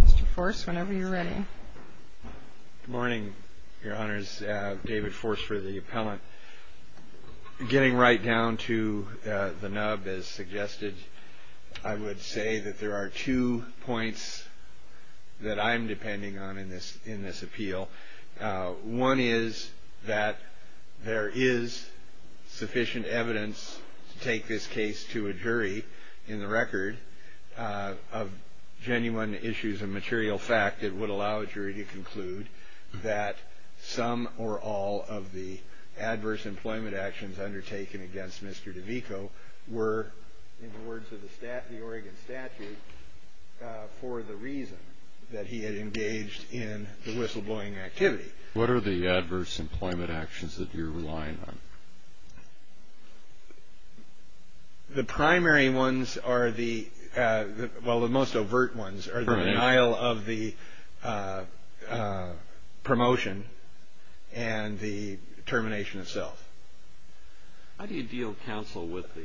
Mr. Force, whenever you're ready. Good morning, Your Honors. David Force for the appellant. Getting right down to the nub, as suggested, I would say that there are two points that I'm depending on in this appeal. One is that there is sufficient evidence to take this case to a jury in the record of genuine issues of material fact that would allow a jury to conclude that some or all of the adverse employment actions undertaken against Mr. DeVico were, in the words of the Oregon statute, for the reason that he had engaged in the whistleblowing activity. What are the adverse employment actions that you're relying on? The primary ones are the, well, the most overt ones are the denial of the promotion and the termination itself. How do you deal, counsel, with the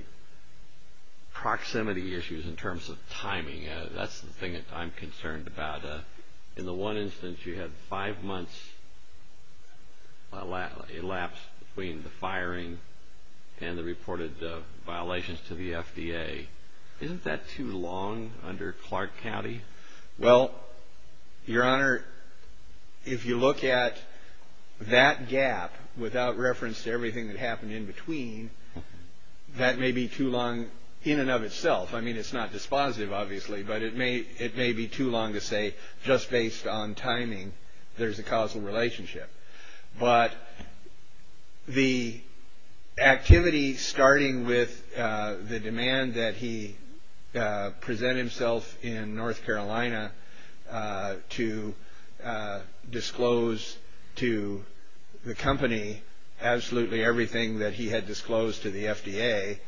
proximity issues in terms of timing? That's the thing that I'm concerned about. In the one instance you had five months elapsed between the firing and the reported violations to the FDA. Isn't that too long under Clark County? Well, Your Honor, if you look at that gap without reference to everything that happened in between, that may be too long in and of itself. I mean, it's not dispositive, obviously, but it may be too long to say just based on timing there's a causal relationship. But the activity starting with the demand that he present himself in North Carolina to disclose to the company absolutely everything that he had disclosed to the FDA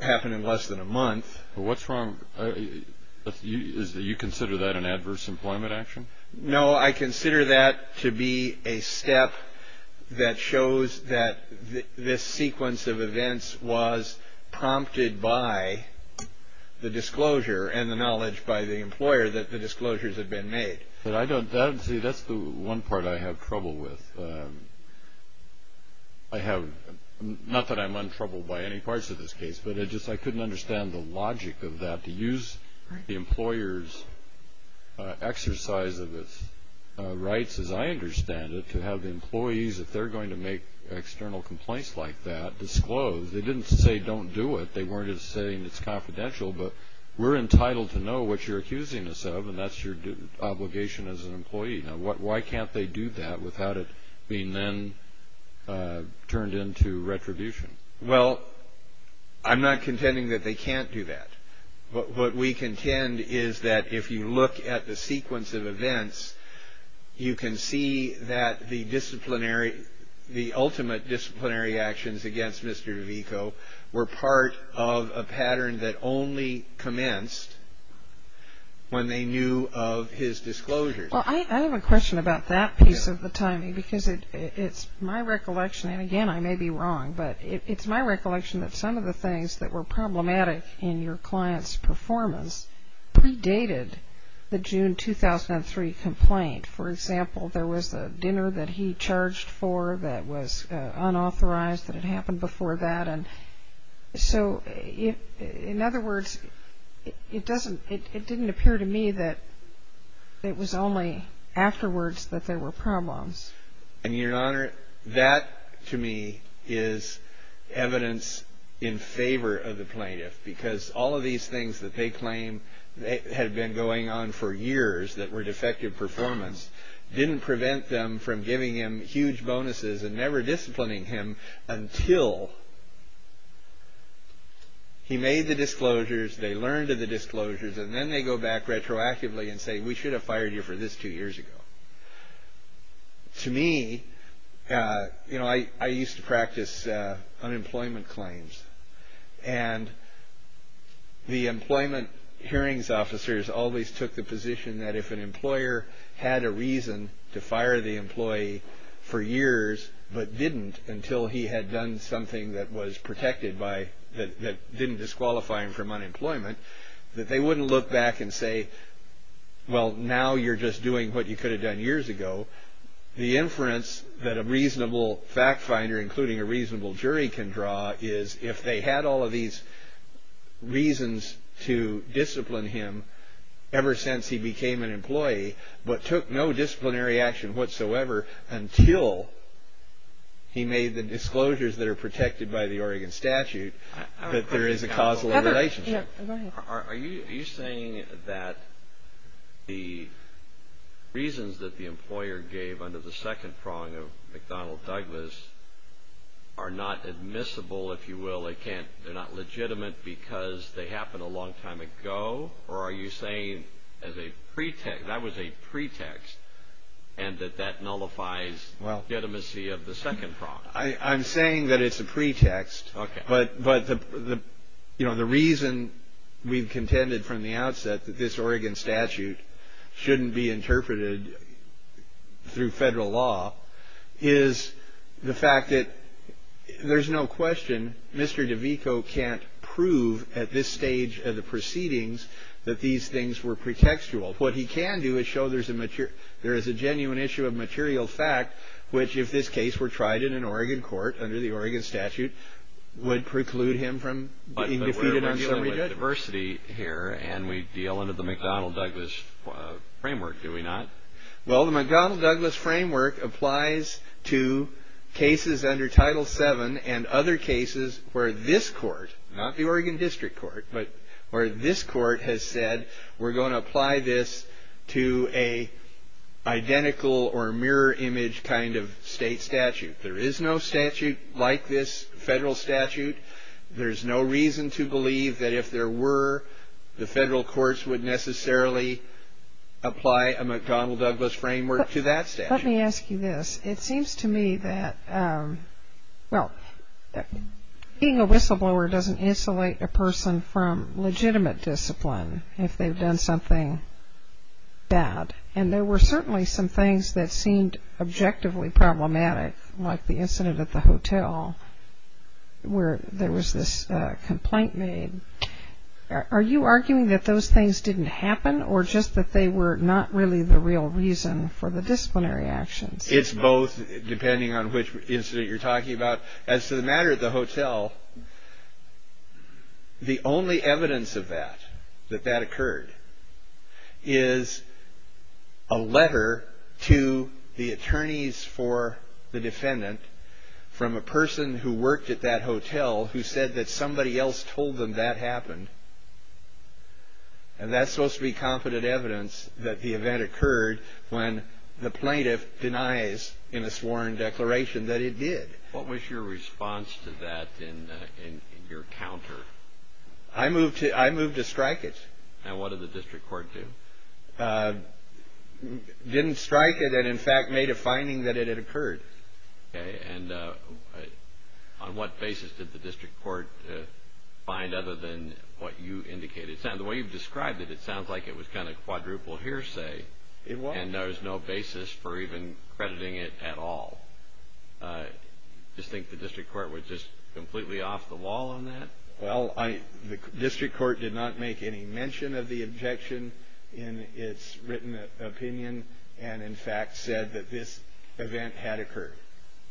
happened in less than a month. What's wrong? You consider that an adverse employment action? No, I consider that to be a step that shows that this sequence of events was prompted by the disclosure and the knowledge by the employer that the disclosures had been made. See, that's the one part I have trouble with. Not that I'm in trouble by any parts of this case, but I just couldn't understand the logic of that to use the employer's exercise of its rights, as I understand it, to have the employees, if they're going to make external complaints like that, disclose. They didn't say don't do it. They weren't saying it's confidential, but we're entitled to know what you're accusing us of, and that's your obligation as an employee. Now, why can't they do that without it being then turned into retribution? Well, I'm not contending that they can't do that. What we contend is that if you look at the sequence of events, you can see that the ultimate disciplinary actions against Mr. DeVico were part of a pattern that only commenced when they knew of his disclosures. Well, I have a question about that piece of the timing because it's my recollection, and again, I may be wrong, but it's my recollection that some of the things that were problematic in your client's performance predated the June 2003 complaint. For example, there was a dinner that he charged for that was unauthorized, that had happened before that, and so in other words, it didn't appear to me that it was only afterwards that there were problems. And, Your Honor, that to me is evidence in favor of the plaintiff because all of these things that they claim had been going on for years that were defective performance didn't prevent them from giving him huge bonuses and never disciplining him until he made the disclosures, they learned of the disclosures, and then they go back retroactively and say, we should have fired you for this two years ago. To me, you know, I used to practice unemployment claims, and the employment hearings officers always took the position that if an employer had a reason to fire the employee for years but didn't until he had done something that was protected by, that didn't disqualify him from unemployment, that they wouldn't look back and say, well, now you're just doing what you could have done years ago. The inference that a reasonable fact finder including a reasonable jury can draw is if they had all of these reasons to discipline him ever since he became an employee but took no disciplinary action whatsoever until he made the disclosures that are protected by the Oregon statute that there is a causal relationship. Are you saying that the reasons that the employer gave under the second prong of McDonnell Douglas are not admissible, if you will, they're not legitimate because they happened a long time ago, or are you saying that was a pretext and that that nullifies legitimacy of the second prong? I'm saying that it's a pretext, but the reason we've contended from the outset that this Oregon statute shouldn't be interpreted through federal law is the fact that there's no question Mr. DeVico can't prove at this stage of the proceedings that these things were pretextual. What he can do is show there is a genuine issue of material fact, which if this case were tried in an Oregon court under the Oregon statute would preclude him from being defeated on a guillotine. But we're wrestling with diversity here and we deal under the McDonnell Douglas framework, do we not? Well, the McDonnell Douglas framework applies to cases under Title VII and other cases where this court, not the Oregon District Court, but where this court has said we're going to apply this to an identical or mirror image kind of state statute. There is no statute like this federal statute. There's no reason to believe that if there were, the federal courts would necessarily apply a McDonnell Douglas framework to that statute. Let me ask you this. It seems to me that, well, being a whistleblower doesn't insulate a person from legitimate discipline. If they've done something bad. And there were certainly some things that seemed objectively problematic, like the incident at the hotel where there was this complaint made. Are you arguing that those things didn't happen or just that they were not really the real reason for the disciplinary actions? It's both, depending on which incident you're talking about. As to the matter at the hotel, the only evidence of that, that that occurred, is a letter to the attorneys for the defendant from a person who worked at that hotel who said that somebody else told them that happened. And that's supposed to be confident evidence that the event occurred when the plaintiff denies in a sworn declaration that it did. What was your response to that in your counter? I moved to strike it. And what did the district court do? Didn't strike it and, in fact, made a finding that it had occurred. Okay. And on what basis did the district court find other than what you indicated? The way you've described it, it sounds like it was kind of quadruple hearsay. It was. And there was no basis for even crediting it at all. You just think the district court was just completely off the wall on that? Well, the district court did not make any mention of the objection in its written opinion and, in fact, said that this event had occurred,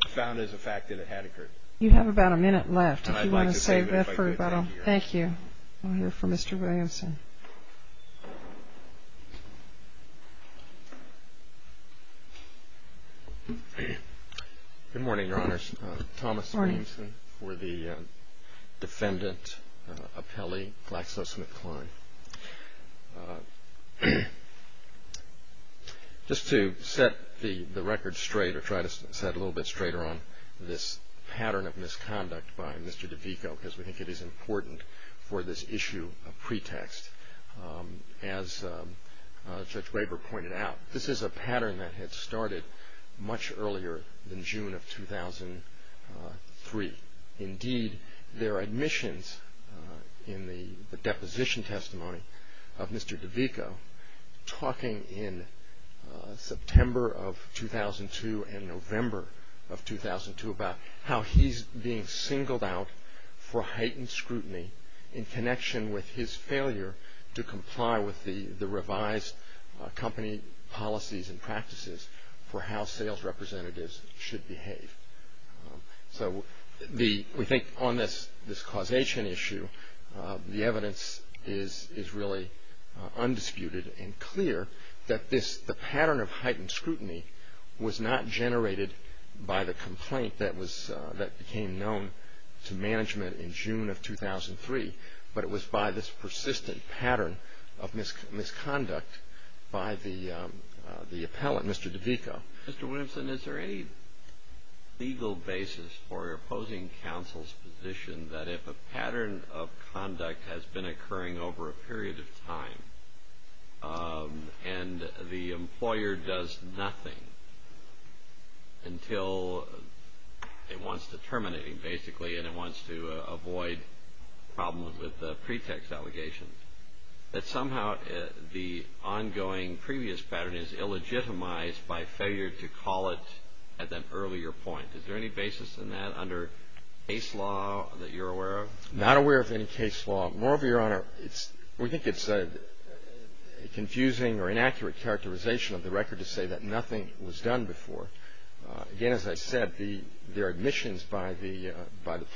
found as a fact that it had occurred. You have about a minute left. I'd like to save it if I could. Thank you. We'll hear from Mr. Williamson. Good morning, Your Honors. Thomas Williamson for the defendant appellee, GlaxoSmithKline. Just to set the record straight or try to set it a little bit straighter on this pattern of misconduct by Mr. DeVico because we think it is important for this issue of pretext. As Judge Graber pointed out, this is a pattern that had started much earlier than June of 2003. Indeed, there are admissions in the deposition testimony of Mr. DeVico talking in September of 2002 and November of 2002 about how he's being singled out for heightened scrutiny in connection with his failure to comply with the revised company policies and practices for how sales representatives should behave. So we think on this causation issue, the evidence is really undisputed and clear that the pattern of heightened scrutiny was not generated by the complaint that became known to management in June of 2003, but it was by this persistent pattern of misconduct by the appellant, Mr. DeVico. Mr. Williamson, is there any legal basis for opposing counsel's position that if a pattern of conduct has been occurring over a period of time and the employer does nothing until it wants to terminate basically and it wants to avoid problems with the pretext allegations, that somehow the ongoing previous pattern is illegitimized by failure to call it at an earlier point? Is there any basis in that under case law that you're aware of? Not aware of any case law. Moreover, Your Honor, we think it's a confusing or inaccurate characterization of the record to say that nothing was done before. Again, as I said, there are admissions by the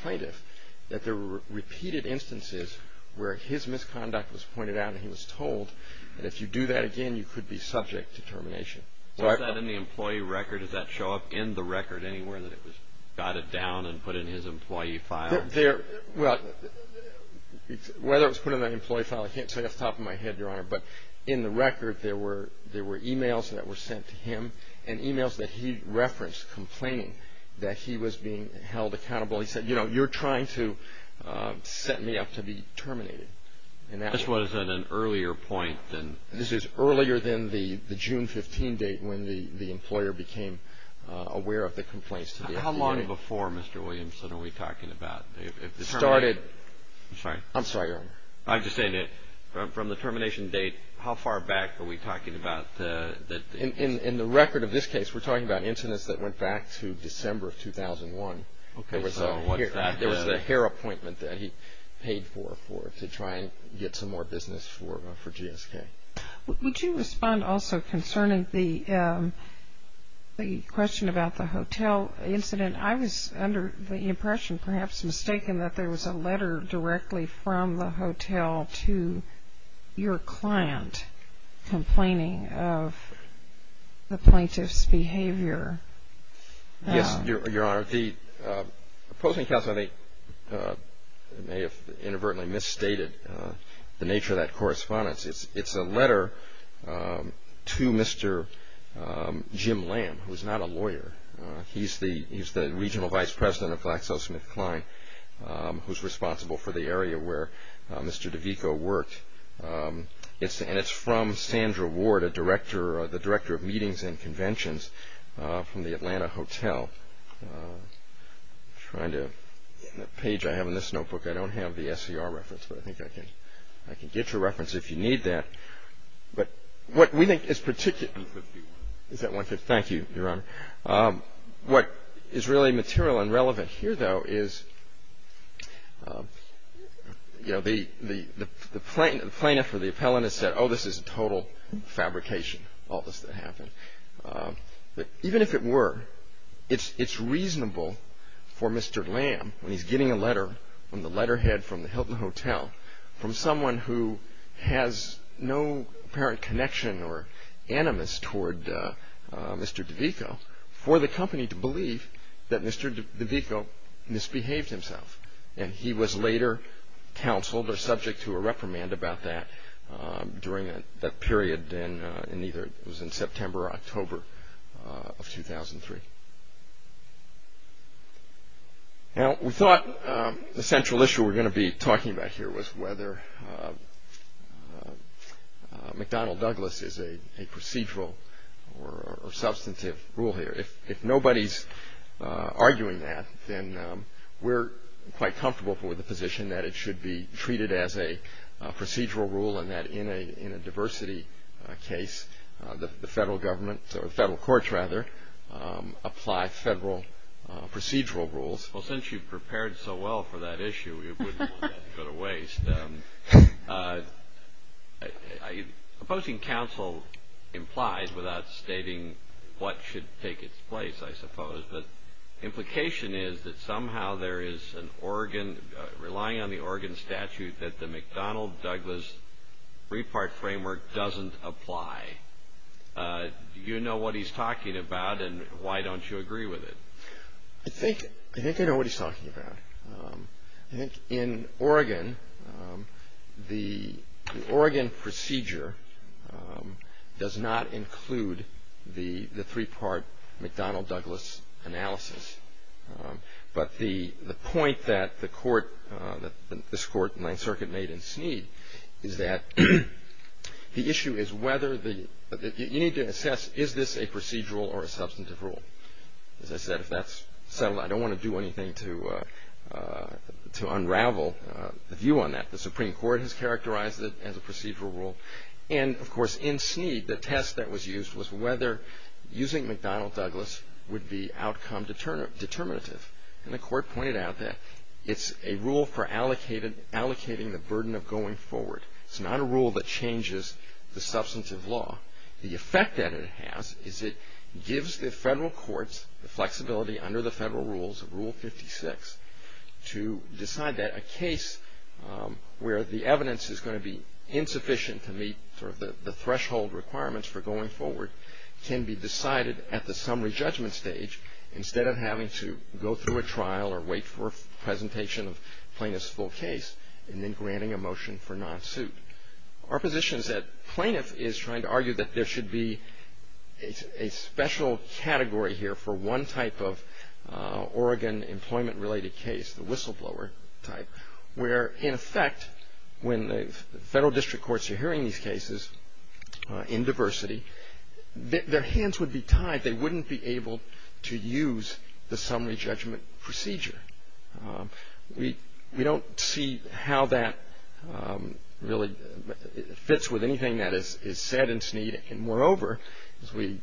plaintiff that there were repeated instances where his misconduct was pointed out and he was told that if you do that again, you could be subject to termination. Was that in the employee record? Does that show up in the record anywhere that it was dotted down and put in his employee file? Whether it was put in an employee file, I can't say off the top of my head, Your Honor, but in the record there were e-mails that were sent to him and e-mails that he referenced complaining that he was being held accountable. He said, you know, you're trying to set me up to be terminated. This was at an earlier point than? This is earlier than the June 15 date when the employer became aware of the complaints. How long before, Mr. Williamson, are we talking about? I'm sorry, Your Honor. I'm just saying that from the termination date, how far back are we talking about? In the record of this case, we're talking about incidents that went back to December of 2001. There was a hair appointment that he paid for to try and get some more business for GSK. Would you respond also concerning the question about the hotel incident? I was under the impression, perhaps mistaken, that there was a letter directly from the hotel to your client complaining of the plaintiff's behavior. Yes, Your Honor. The Post and Counsel may have inadvertently misstated the nature of that correspondence. It's a letter to Mr. Jim Lamb, who's not a lawyer. He's the regional vice president of FlaxoSmithKline, who's responsible for the area where Mr. DeVico worked. And it's from Sandra Ward, the director of meetings and conventions, from the Atlanta hotel. The page I have in this notebook, I don't have the SCR reference, but I think I can get your reference if you need that. But what we think is particularly... Thank you, Your Honor. What is really material and relevant here, though, is the plaintiff or the appellant has said, Oh, this is total fabrication, all this that happened. But even if it were, it's reasonable for Mr. Lamb, when he's getting a letter from the letterhead from the hotel, from someone who has no apparent connection or animus toward Mr. DeVico, for the company to believe that Mr. DeVico misbehaved himself. And he was later counseled or subject to a reprimand about that during that period, and either it was in September or October of 2003. Now, we thought the central issue we're going to be talking about here was whether McDonnell-Douglas is a procedural or substantive rule here. If nobody's arguing that, then we're quite comfortable with the position that it should be treated as a procedural rule and that in a diversity case, the federal courts apply federal procedural rules. Well, since you've prepared so well for that issue, we wouldn't want that to go to waste. But opposing counsel implies without stating what should take its place, I suppose, but implication is that somehow there is an Oregon, relying on the Oregon statute, that the McDonnell-Douglas three-part framework doesn't apply. Do you know what he's talking about, and why don't you agree with it? I think I know what he's talking about. I think in Oregon, the Oregon procedure does not include the three-part McDonnell-Douglas analysis. But the point that this court, the Ninth Circuit made in Snead, is that the issue is whether the – you need to assess, is this a procedural or a substantive rule? As I said, if that's settled, I don't want to do anything to unravel the view on that. The Supreme Court has characterized it as a procedural rule. And, of course, in Snead, the test that was used was whether using McDonnell-Douglas would be outcome determinative. And the court pointed out that it's a rule for allocating the burden of going forward. It's not a rule that changes the substantive law. The effect that it has is it gives the federal courts the flexibility under the federal rules, Rule 56, to decide that a case where the evidence is going to be insufficient to meet sort of the threshold requirements for going forward can be decided at the summary judgment stage instead of having to go through a trial or wait for a presentation of plaintiff's full case and then granting a motion for non-suit. Our position is that plaintiff is trying to argue that there should be a special category here for one type of Oregon employment-related case, the whistleblower type, where, in effect, when the federal district courts are hearing these cases in diversity, their hands would be tied. They wouldn't be able to use the summary judgment procedure. We don't see how that really fits with anything that is said and seen. And, moreover, as we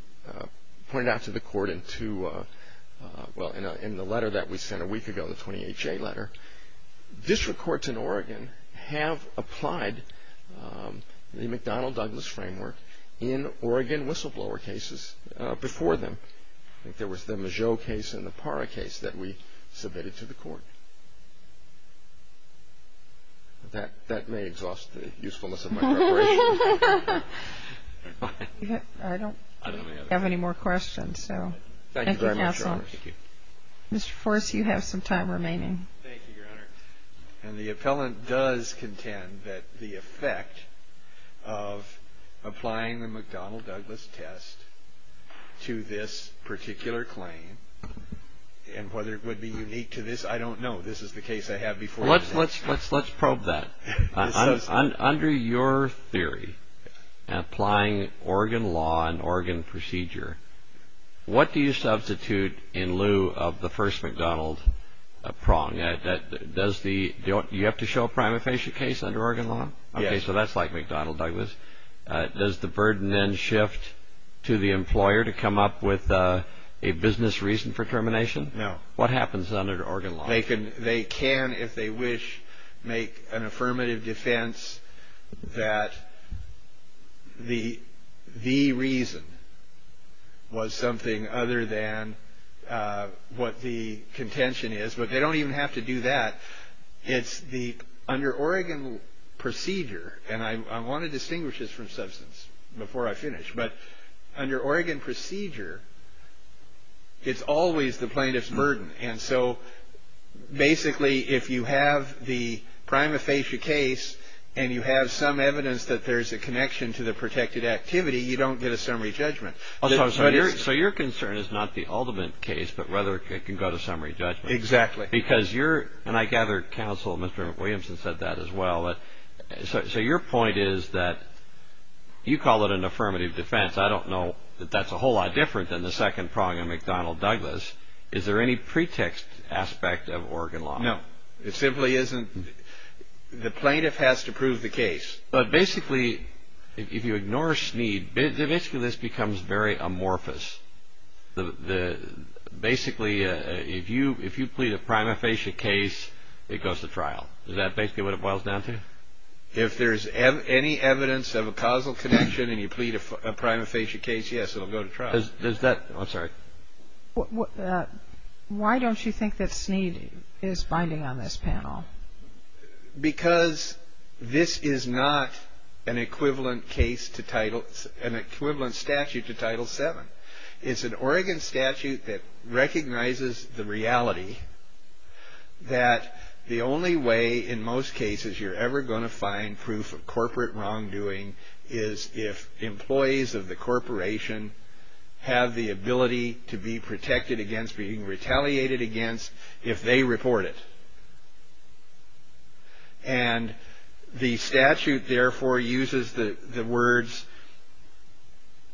pointed out to the court in the letter that we sent a week ago, the 28-J letter, district courts in Oregon have applied the McDonnell-Douglas framework in Oregon whistleblower cases before them. I think there was the Mageau case and the Parra case that we submitted to the court. That may exhaust the usefulness of my preparation. I don't have any more questions, so thank you, Counsel. Thank you very much, Your Honor. Mr. Forse, you have some time remaining. Thank you, Your Honor. And the appellant does contend that the effect of applying the McDonnell-Douglas test to this particular claim and whether it would be unique to this, I don't know. This is the case I had before. Let's probe that. Under your theory, applying Oregon law and Oregon procedure, what do you substitute in lieu of the first McDonnell prong? You have to show a prima facie case under Oregon law? Yes. Okay, so that's like McDonnell-Douglas. Does the burden then shift to the employer to come up with a business reason for termination? No. What happens under Oregon law? They can, if they wish, make an affirmative defense that the reason was something other than what the contention is. But they don't even have to do that. Under Oregon procedure, and I want to distinguish this from substance before I finish, but under Oregon procedure, it's always the plaintiff's burden. And so basically if you have the prima facie case and you have some evidence that there's a connection to the protected activity, you don't get a summary judgment. So your concern is not the ultimate case, but rather it can go to summary judgment. Exactly. Because you're, and I gather counsel, Mr. McWilliamson, said that as well. So your point is that you call it an affirmative defense. I don't know that that's a whole lot different than the second prong in McDonnell-Douglas. Is there any pretext aspect of Oregon law? No. It simply isn't. The plaintiff has to prove the case. But basically if you ignore Snead, basically this becomes very amorphous. Basically if you plead a prima facie case, it goes to trial. Is that basically what it boils down to? If there's any evidence of a causal connection and you plead a prima facie case, yes, it will go to trial. Does that, I'm sorry. Why don't you think that Snead is binding on this panel? Because this is not an equivalent case to Title, an equivalent statute to Title VII. It's an Oregon statute that recognizes the reality that the only way in most cases you're ever going to find proof of corporate wrongdoing is if employees of the corporation have the ability to be protected against, being retaliated against if they report it. And the statute therefore uses the words,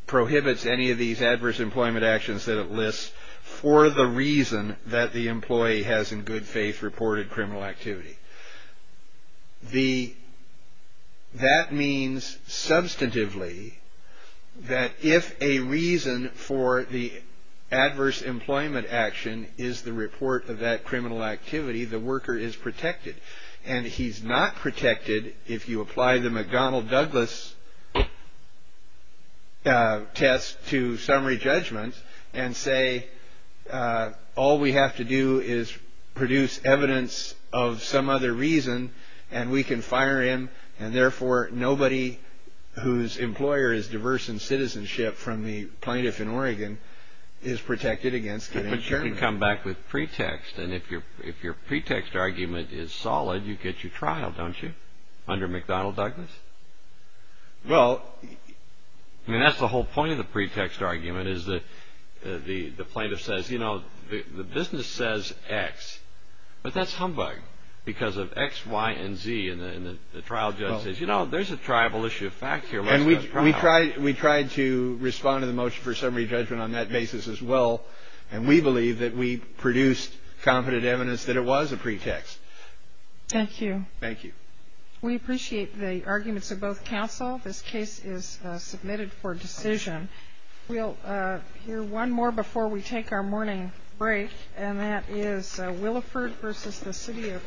prohibits any of these adverse employment actions that it lists for the reason that the employee has in good faith reported criminal activity. That means substantively that if a reason for the adverse employment action is the report of that criminal activity, the worker is protected. And he's not protected if you apply the McDonnell-Douglas test to summary judgment and say all we have to do is produce evidence of some other reason and we can fire him and therefore nobody whose employer is diverse in citizenship from the plaintiff in Oregon is protected against getting a term. But you can come back with pretext. And if your pretext argument is solid, you get your trial, don't you, under McDonnell-Douglas? Well, I mean that's the whole point of the pretext argument is that the plaintiff says, you know, the business says X, but that's humbug because of X, Y, and Z. And the trial judge says, you know, there's a tribal issue of fact here. And we tried to respond to the motion for summary judgment on that basis as well. And we believe that we produced competent evidence that it was a pretext. Thank you. Thank you. We appreciate the arguments of both counsel. This case is submitted for decision. We'll hear one more before we take our morning break, and that is Williford v. The City of Portland.